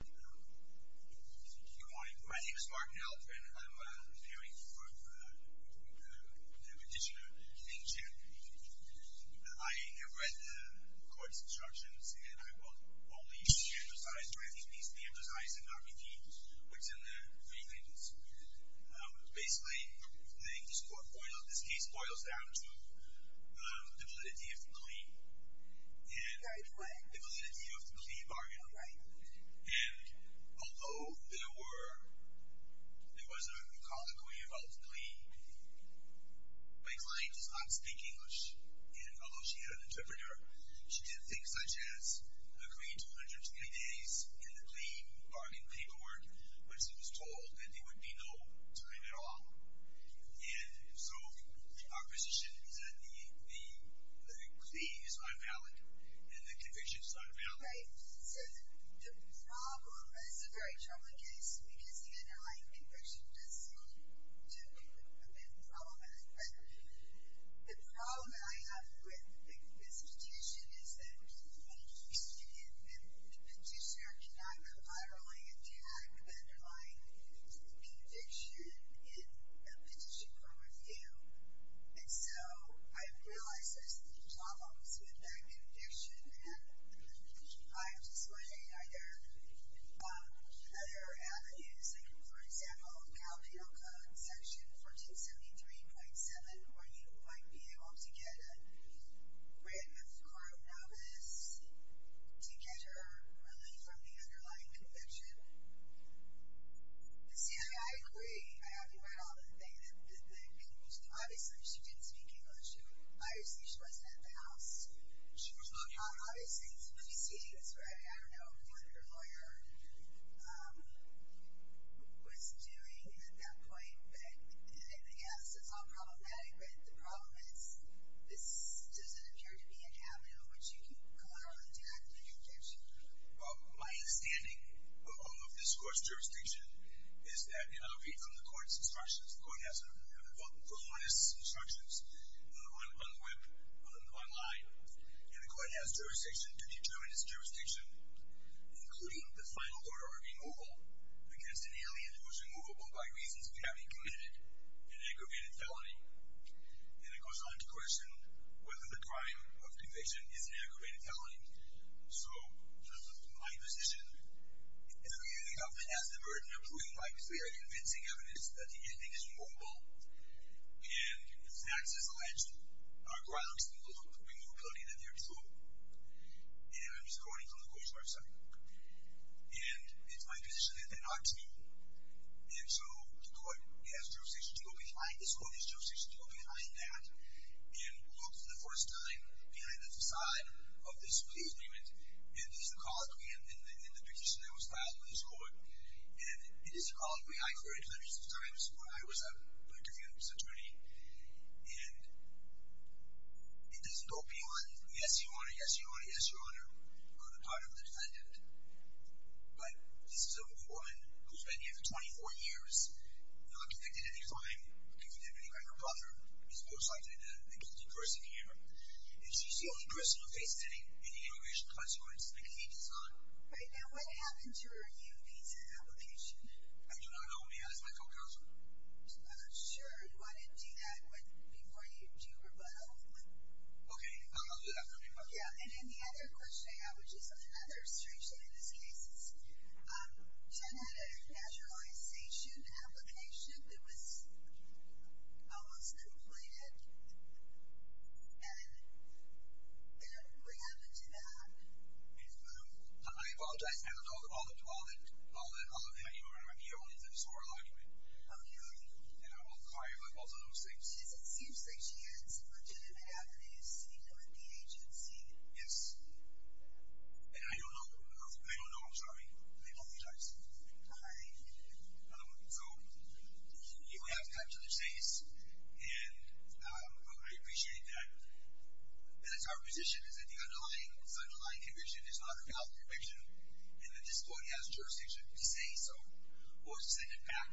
Good morning. My name is Martin Elk and I'm appearing for the petitioner, Hank Chen. I have read the court's instructions and I will only be emphasized, or at least be emphasized and not repeated, what's in there. Basically, this case boils down to the validity of the plea bargain. And although there was a colloquy about the plea, my client does not speak English. And although she had an interpreter, she did things such as agree to 120 days in the plea bargain paperwork when she was told that there would be no time at all. And so our position is that the plea is unvalid and the conviction is unvalid. So the problem, and this is a very troubling case because the underlying conviction does seem to be problematic, but the problem that I have with this petition is that the petitioner cannot collaterally attack the underlying conviction in a petition for review. And so I realize there's some problems with that conviction and I'm just wondering, are there other avenues, like for example, Cal Penal Code section 1473.7 where you might be able to get a random court novice to get her relief from the underlying conviction? See, I agree. I agree with all of the things that have been mentioned. Obviously, she didn't speak English. Obviously, she wasn't at the house. She was not here. Obviously, it's the proceedings, right? I don't know what her lawyer was doing at that point. But yes, it's all problematic. But the problem is this doesn't appear to be an avenue in which you can collaterally attack the conviction. My understanding of this court's jurisdiction is that, and I'll read from the court's instructions, the court has a book of honest instructions on the web, online, and the court has jurisdiction to determine its jurisdiction, including the final order of removal against an alien who was removable by reasons of having committed an aggravated felony. And it goes on to question whether the crime of conviction is an aggravated felony. So, my position is that we have passed the burden of proving why, because we have convincing evidence that the ending is removable, and the facts as alleged are grounds for the removability that there is hope. And I'm just quoting from the court's website. And it's my position that there are two. And so, the court has jurisdiction to go behind this court, and it has jurisdiction to go behind that and look for the first time behind the facade of this plea agreement. And this is a colloquy in the petition that was filed with this court. And it is a colloquy. I've heard it hundreds of times when I was a defendant's attorney. And it doesn't go beyond, yes, your Honor, yes, your Honor, yes, your Honor, on the part of the defendant. But this is a woman who's been here for 24 years, not convicted in any crime, convicted by her brother, is most likely the guilty person here. And she's the only person who faces any immigration consequences. The case is not. All right. Now, what happened to her U-Visa application? I do not know. May I ask my co-counsel? Sure. Do you want to do that before you do your rebuttal? Okay. I'll do that for me. Yeah. And then the other question I have, which is another strange thing in this case, Jen had a naturalization application that was almost completed. And what happened to that? I apologize. I don't know all that anymore. I'm here only as a historical argument. Okay. And I will clarify both of those things. It seems like she had some legitimate avenues, even with the agency. Yes. And I don't know. I don't know. I'm sorry. I apologize. All right. So, we have to cut to the chase. And I appreciate that. That's our position, is that the underlying conviction is not a valid conviction. And the disability has jurisdiction to say so. Have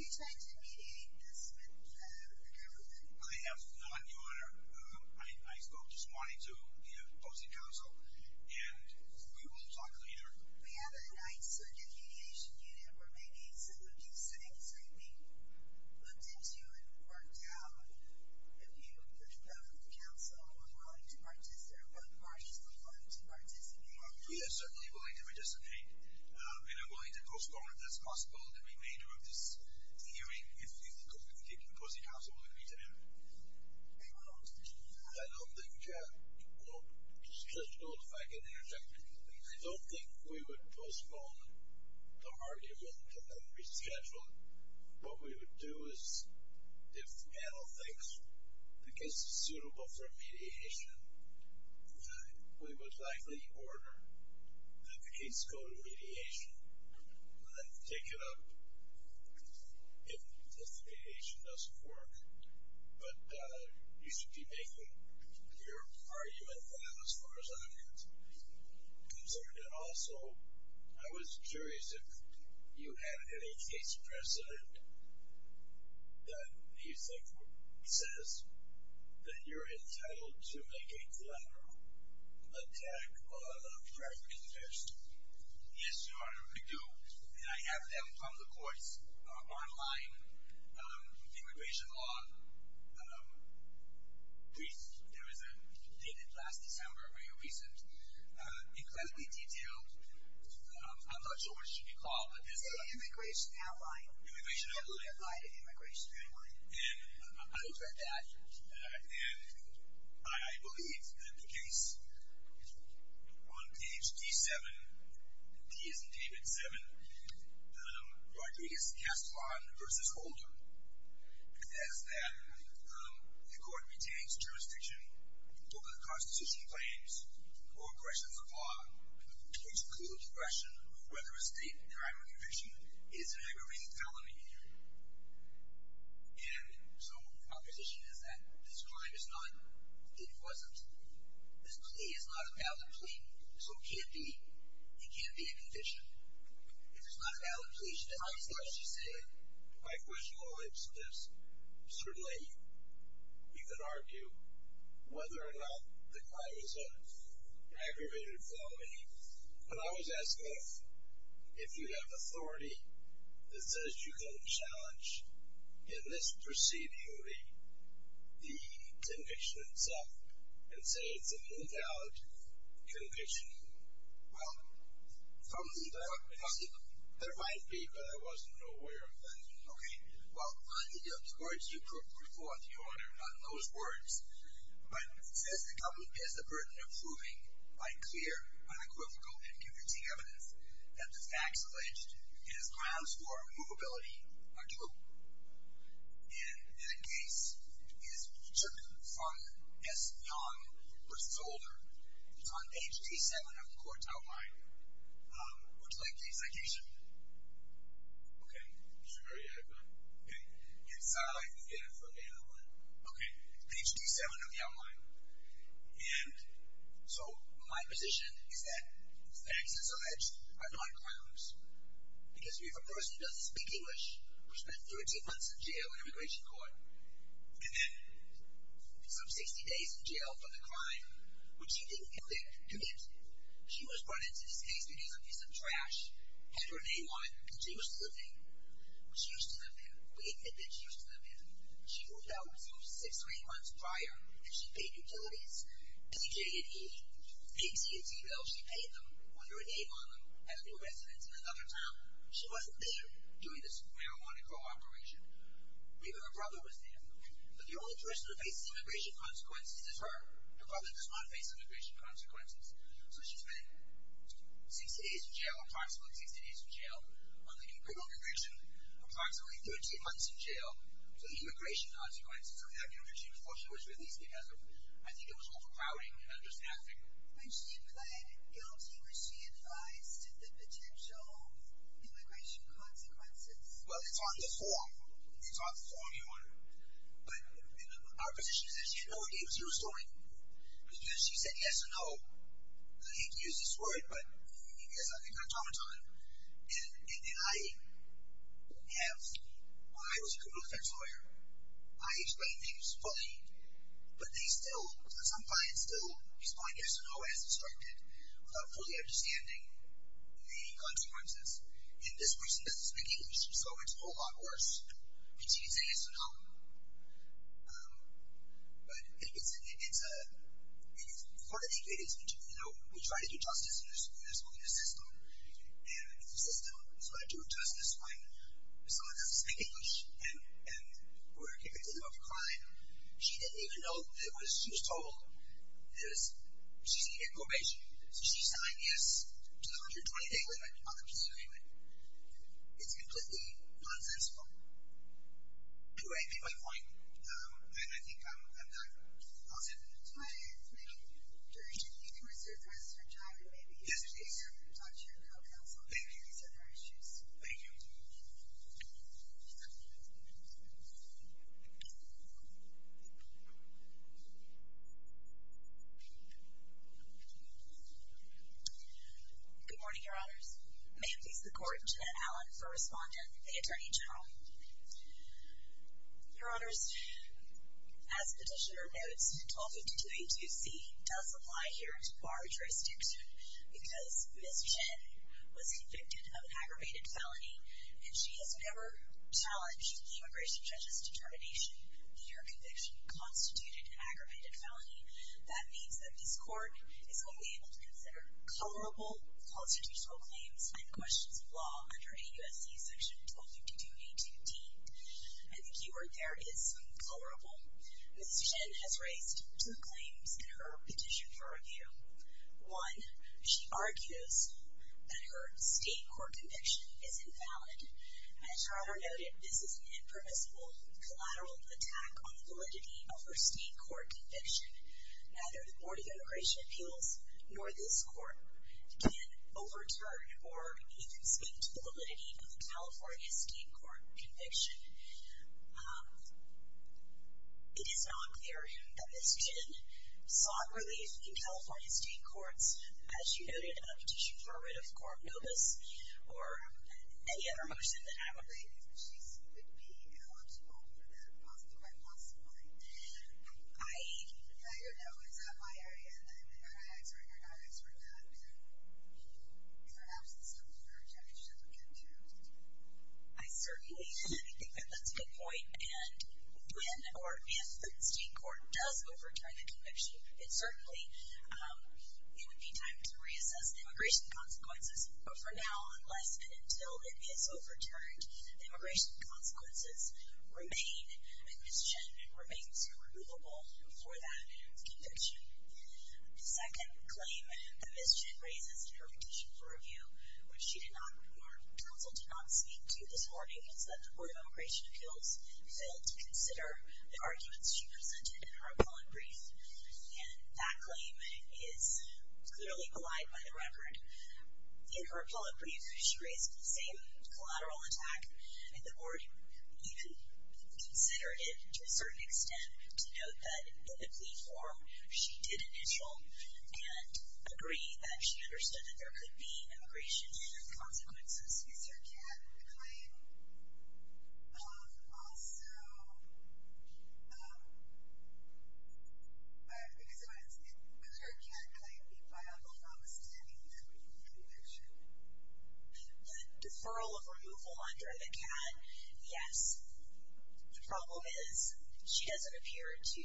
you tried to mediate this with the government? I have not, Your Honor. I spoke just wanting to, you know, opposing counsel. And we will talk later. We have a ninth circuit mediation unit where maybe some of these things are being looked into and worked out. If both parties are willing to participate. We are certainly willing to participate. And I'm willing to postpone, if that's possible, the remainder of this hearing. If opposing counsel will agree to that. I don't think we would postpone the argument and then reschedule it. What we would do is if panel thinks the case is suitable for mediation, we would likely order the case go to mediation. Take it up if the mediation doesn't work. But you should be making your argument file as far as I'm concerned. And also, I was curious if you had any case precedent that you think says that you're entitled to make a collateral attack or a threat in this. Yes, Your Honor, I do. And I have them from the courts online. Immigration law brief. There was a dated last December, very recent. Incredibly detailed. I'm not sure what it should be called. An immigration outline. Immigration outline. A simplified immigration outline. I've read that. And I believe that the case on page D7, D as in David, 7, Rodriguez-Castellan v. Holder, says that the court retains jurisdiction over the Constitution claims or questions of law, which include the question of whether a state crime or conviction is an aggravated felony. And so my position is that this crime is not, it wasn't, this plea is not a valid plea. So it can't be, it can't be a conviction. If it's not a valid plea, she doesn't have as much to say. My question relates to this. Certainly, you can argue whether or not the crime is an aggravated felony. But I was asking if you have authority that says you can challenge in this proceeding the conviction itself and say it's an invalid conviction. Well, there might be, but I wasn't aware of that. Okay. Well, I think of the words you put before the order, not those words, but it says the government has the burden of proving by clear, unequivocal, and convincing evidence that the facts alleged in its grounds for immovability are true. And the case is to confront S. Young v. Holder. It's on page D7 of the court's outline. Would you like the execution? Okay. Sure, yeah, I'd love it. Okay. And so I'd like to get it from the other one. Okay. Page D7 of the outline. And so my position is that the facts as alleged are non-criminals. Because we have a person who doesn't speak English, who spent 13 months in jail in immigration court, and then some 60 days in jail for the crime when she didn't commit. She was brought into this case because it was a piece of trash, had her name on it, because she used to live here. We admit that she used to live here. She moved out six or eight months prior, and she paid utilities, paid T&T bills, she paid them, put her name on them, had a new residence in another town. She wasn't there during this marijuana cooperation. Maybe her brother was there. But the only person who faces immigration consequences is her. Her brother does not face immigration consequences. So she spent 60 days in jail, approximately 60 days in jail, on the incriminal conviction, approximately 13 months in jail for the immigration consequences of that new regime before she was released because of, I think it was overcrowding and understaffing. When she pled guilty, was she advised of the potential immigration consequences? Well, it's on the form. It's on the form, you wonder. But our position is that she had no idea it was her story. She said yes or no. I hate to use this word, but I think I'm talking to her. And I have, when I was a criminal defense lawyer, I explained things fully, but they still, some clients still respond yes or no as instructed without fully understanding the consequences. And this person doesn't speak English, so it's a whole lot worse. And she didn't say yes or no. But part of it is, you know, we try to do justice in this system, and it's a system, so I do justice when someone doesn't speak English and we're getting into the middle of a crime. She didn't even know that she was told she's needed in probation. So she signed yes to the 120-day limit on the peace agreement. It's completely nonsensical. Right. You made my point, and I think I'm done. How's that? Do you need to reserve for us for time? Yes, please. Maybe you can talk to your co-counsel about these other issues. Thank you. Good morning, Your Honors. May it please the Court, Janet Allen for Respondent, the Attorney General. Your Honors, as the petitioner notes, 1252A2C does apply here to bar jurisdiction because Ms. Chen was convicted of an aggravated felony, and she has never challenged the immigration judge's determination that her conviction constituted an aggravated felony. That means that this Court is only able to consider colorable constitutional claims and questions of law under AUSC Section 1252A2C. And the keyword there is colorable. Ms. Chen has raised two claims in her petition for review. One, she argues that her state court conviction is invalid. As your Honor noted, this is an impermissible collateral attack on the validity of her state court conviction. Neither the Board of Immigration Appeals nor this Court can overturn or even speak to the validity of a California state court conviction. It is not clear that Ms. Chen sought relief in California state courts, as you noted in her petition for a writ of coram nobis or any other motion that I would like. I think that she would be eligible for that right, possibly. I don't know. Is that my area? I'm not answering or not answering that. Perhaps it's something for the judge to look into. I certainly think that that's a good point. And when or if the state court does overturn the conviction, it certainly would be time to reassess the immigration consequences. But for now, unless and until it is overturned, the immigration consequences remain, and Ms. Chen remains irremovable for that conviction. The second claim that Ms. Chen raises in her petition for review, which she did not before counsel did not speak to this morning, is that the Board of Immigration Appeals failed to consider the arguments she presented in her appellate brief. And that claim is clearly maligned by the record. In her appellate brief, she raised the same collateral attack, and the Board even considered it to a certain extent to note that in the plea form she did initial and agree that she understood that there could be immigration consequences. Is there a second claim? Also, because it was, it was her cat claim made by Uncle Tom, standing there with the conviction. The deferral of removal under the cat, yes. The problem is she doesn't appear to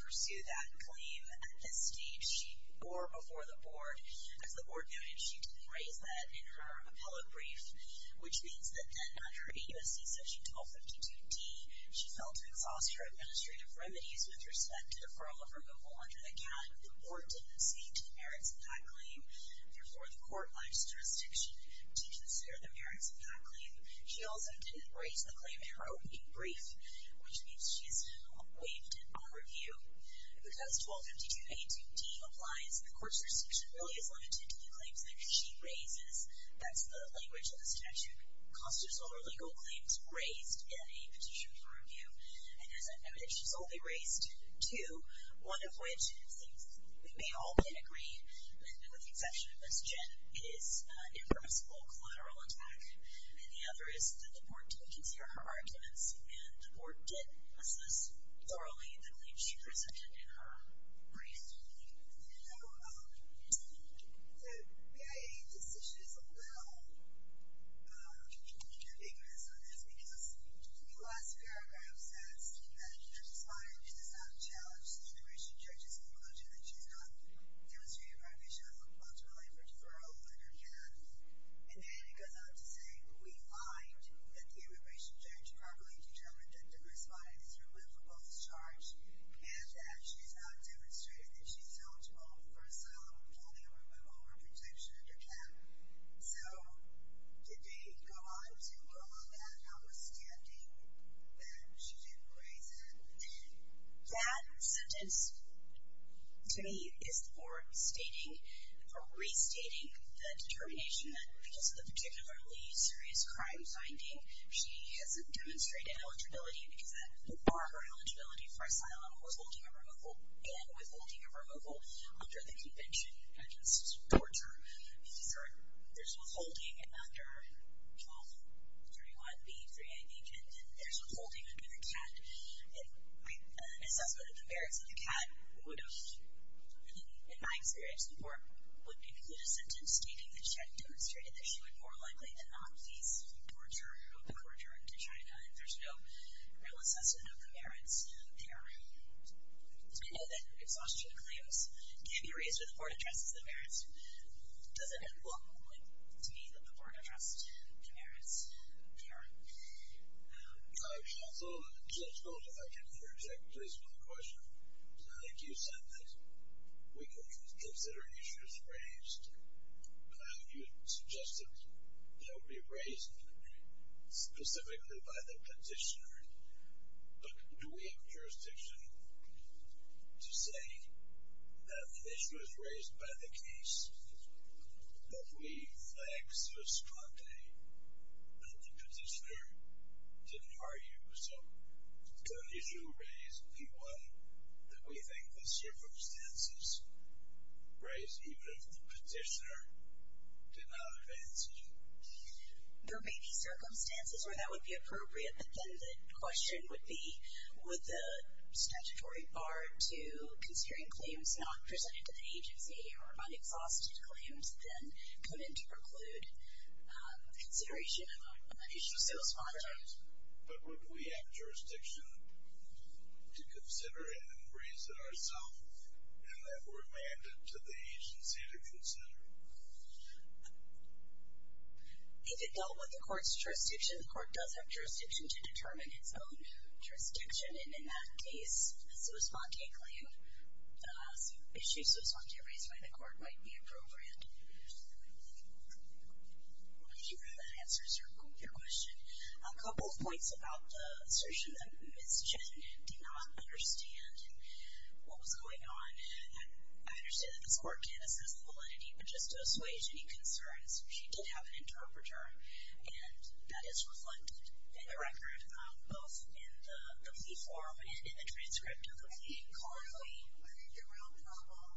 pursue that claim at this stage or before the Board. As the Board noted, she didn't raise that in her appellate brief, which means that then under AUSC Section 1252D, she failed to exhaust her administrative remedies with respect to deferral of removal under the cat. The Board didn't speak to the merits of that claim. Therefore, the court by its jurisdiction did consider the merits of that claim. She also didn't raise the claim in her opening brief, which means she's waived it on review. Because 1252A2D applies, the court's jurisdiction really is limited to the claims that she raises. That's the language of the statute. Constitutional or legal claims raised in a petition for review. And as I've noted, she's only raised two, one of which it seems we may all can agree, and with the exception of Ms. Jett, it is an impermissible collateral attack. And the other is that the Board didn't consider her arguments and the Board didn't assess thoroughly the claims she presented in her brief. The BIA decision is a little ambiguous on this because the last paragraph says that the immigration judge has concluded that she's not demonstrating a prohibition on the possibility for deferral under cat. And then it goes on to say, we find that the immigration judge properly determined that the response is removable as charged and that she's not demonstrating that she's eligible for asylum without a removal or protection under cat. So did they go on to go on that, notwithstanding that she didn't raise it? That sentence, to me, is for restating the determination that because of the particularly serious crime finding, she hasn't demonstrated eligibility because that would bar her eligibility for asylum with holding a removal and with holding a removal under the convention against torture. There's withholding under 1231B3AB, and there's withholding under the cat. An assessment of the merits of the cat would have, in my experience, the Board would include a sentence stating that she hadn't demonstrated that she would more likely than not face torture or be tortured into China. And there's no real assessment of the merits there. It's good to know that exhaustion claims can be raised if the Board addresses the merits. Doesn't it look to me that the Board addressed the merits? Sure. So just going back into your exact place with the question, I think you said that we could consider issues raised. You suggested they would be raised specifically by the petitioner. But do we have jurisdiction to say that an issue was raised by the case, that we flagged so strongly that the petitioner didn't argue? So could an issue raised be one that we think the circumstances raised, even if the petitioner did not advance the issue? There may be circumstances where that would be appropriate, but then the question would be, would the statutory bar to considering claims not presented to the agency or unexhausted claims then come in to preclude consideration of an issue so strongly? But would we have jurisdiction to consider it and raise it ourselves and then remand it to the agency to consider it? If it dealt with the court's jurisdiction, the court does have jurisdiction to determine its own jurisdiction. And in that case, a so spontae claim, issues so spontaneously raised by the court might be appropriate. I hope that answers your question. A couple of points about the assertion that Ms. Chen did not understand what was going on. I understand that this court can't assess the validity, but just to assuage any concerns, she did have an interpreter. And that is reflected in the record, both in the plea form and in the transcript of the plea. I think partly, I think the real problem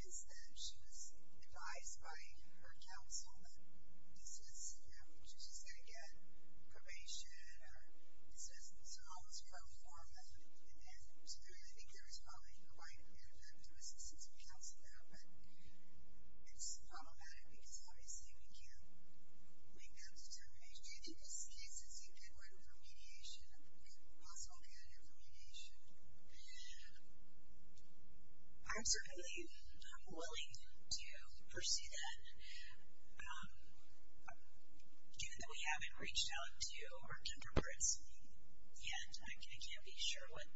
is that she was advised by her counsel that this was, you know, she was just going to get probation or dismissal. So all this pro for method. And I think there was probably quite an effective assistance from counsel there. It's problematic because obviously we can't make that determination. Do you think this case is a good one for mediation? Possibly a good one for mediation? I'm certainly willing to pursue that. Given that we haven't reached out to our counterparts yet, I can't be sure what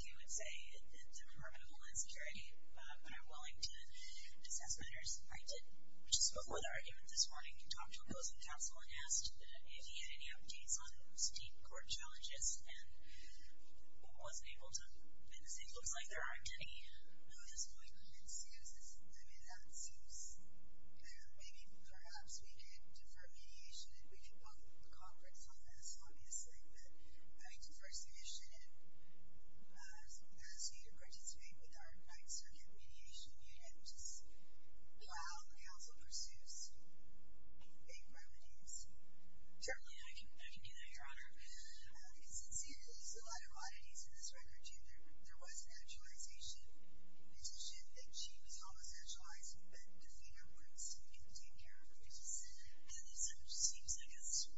you would say in the Department of Homeland Security, but I'm willing to assess matters. I did, just before the argument this morning, talk to a counselor and asked if he had any updates on state court challenges and wasn't able to. And it looks like there aren't any at this point. I mean, that seems, I don't know, maybe even perhaps we can defer mediation and we can work with the conference on this, obviously. I would defer submission and ask you to participate with our Ninth Circuit Mediation Unit, which is how the council pursues aid remedies. Certainly, I can do that, Your Honor. Because it seems there's a lot of oddities in this record. There was an actualization petition that she was homosexualized and then defeated her parents to take care of her. It seems like it's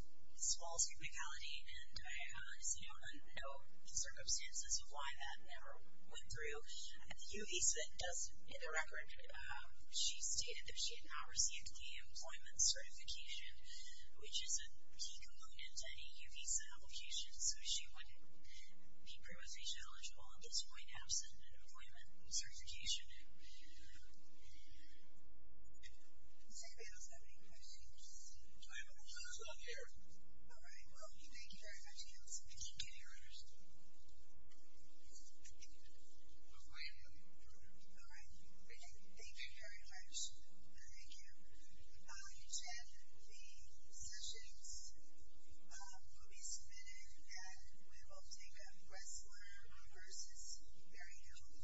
false criticality, and I see no circumstances of why that never went through. The UVC does, in the record, she stated that she did not receive the employment certification, which is a key component to any UVC application, so she wouldn't be provisional eligible at this point, absent an employment certification. Does anybody else have any questions? I have one here. All right. Well, thank you very much. Can you hear us? I am hearing you, Your Honor. All right. Thank you very much. Thank you. Jen, the sessions will be submitted, and we will take a wrestler versus Mary Hill.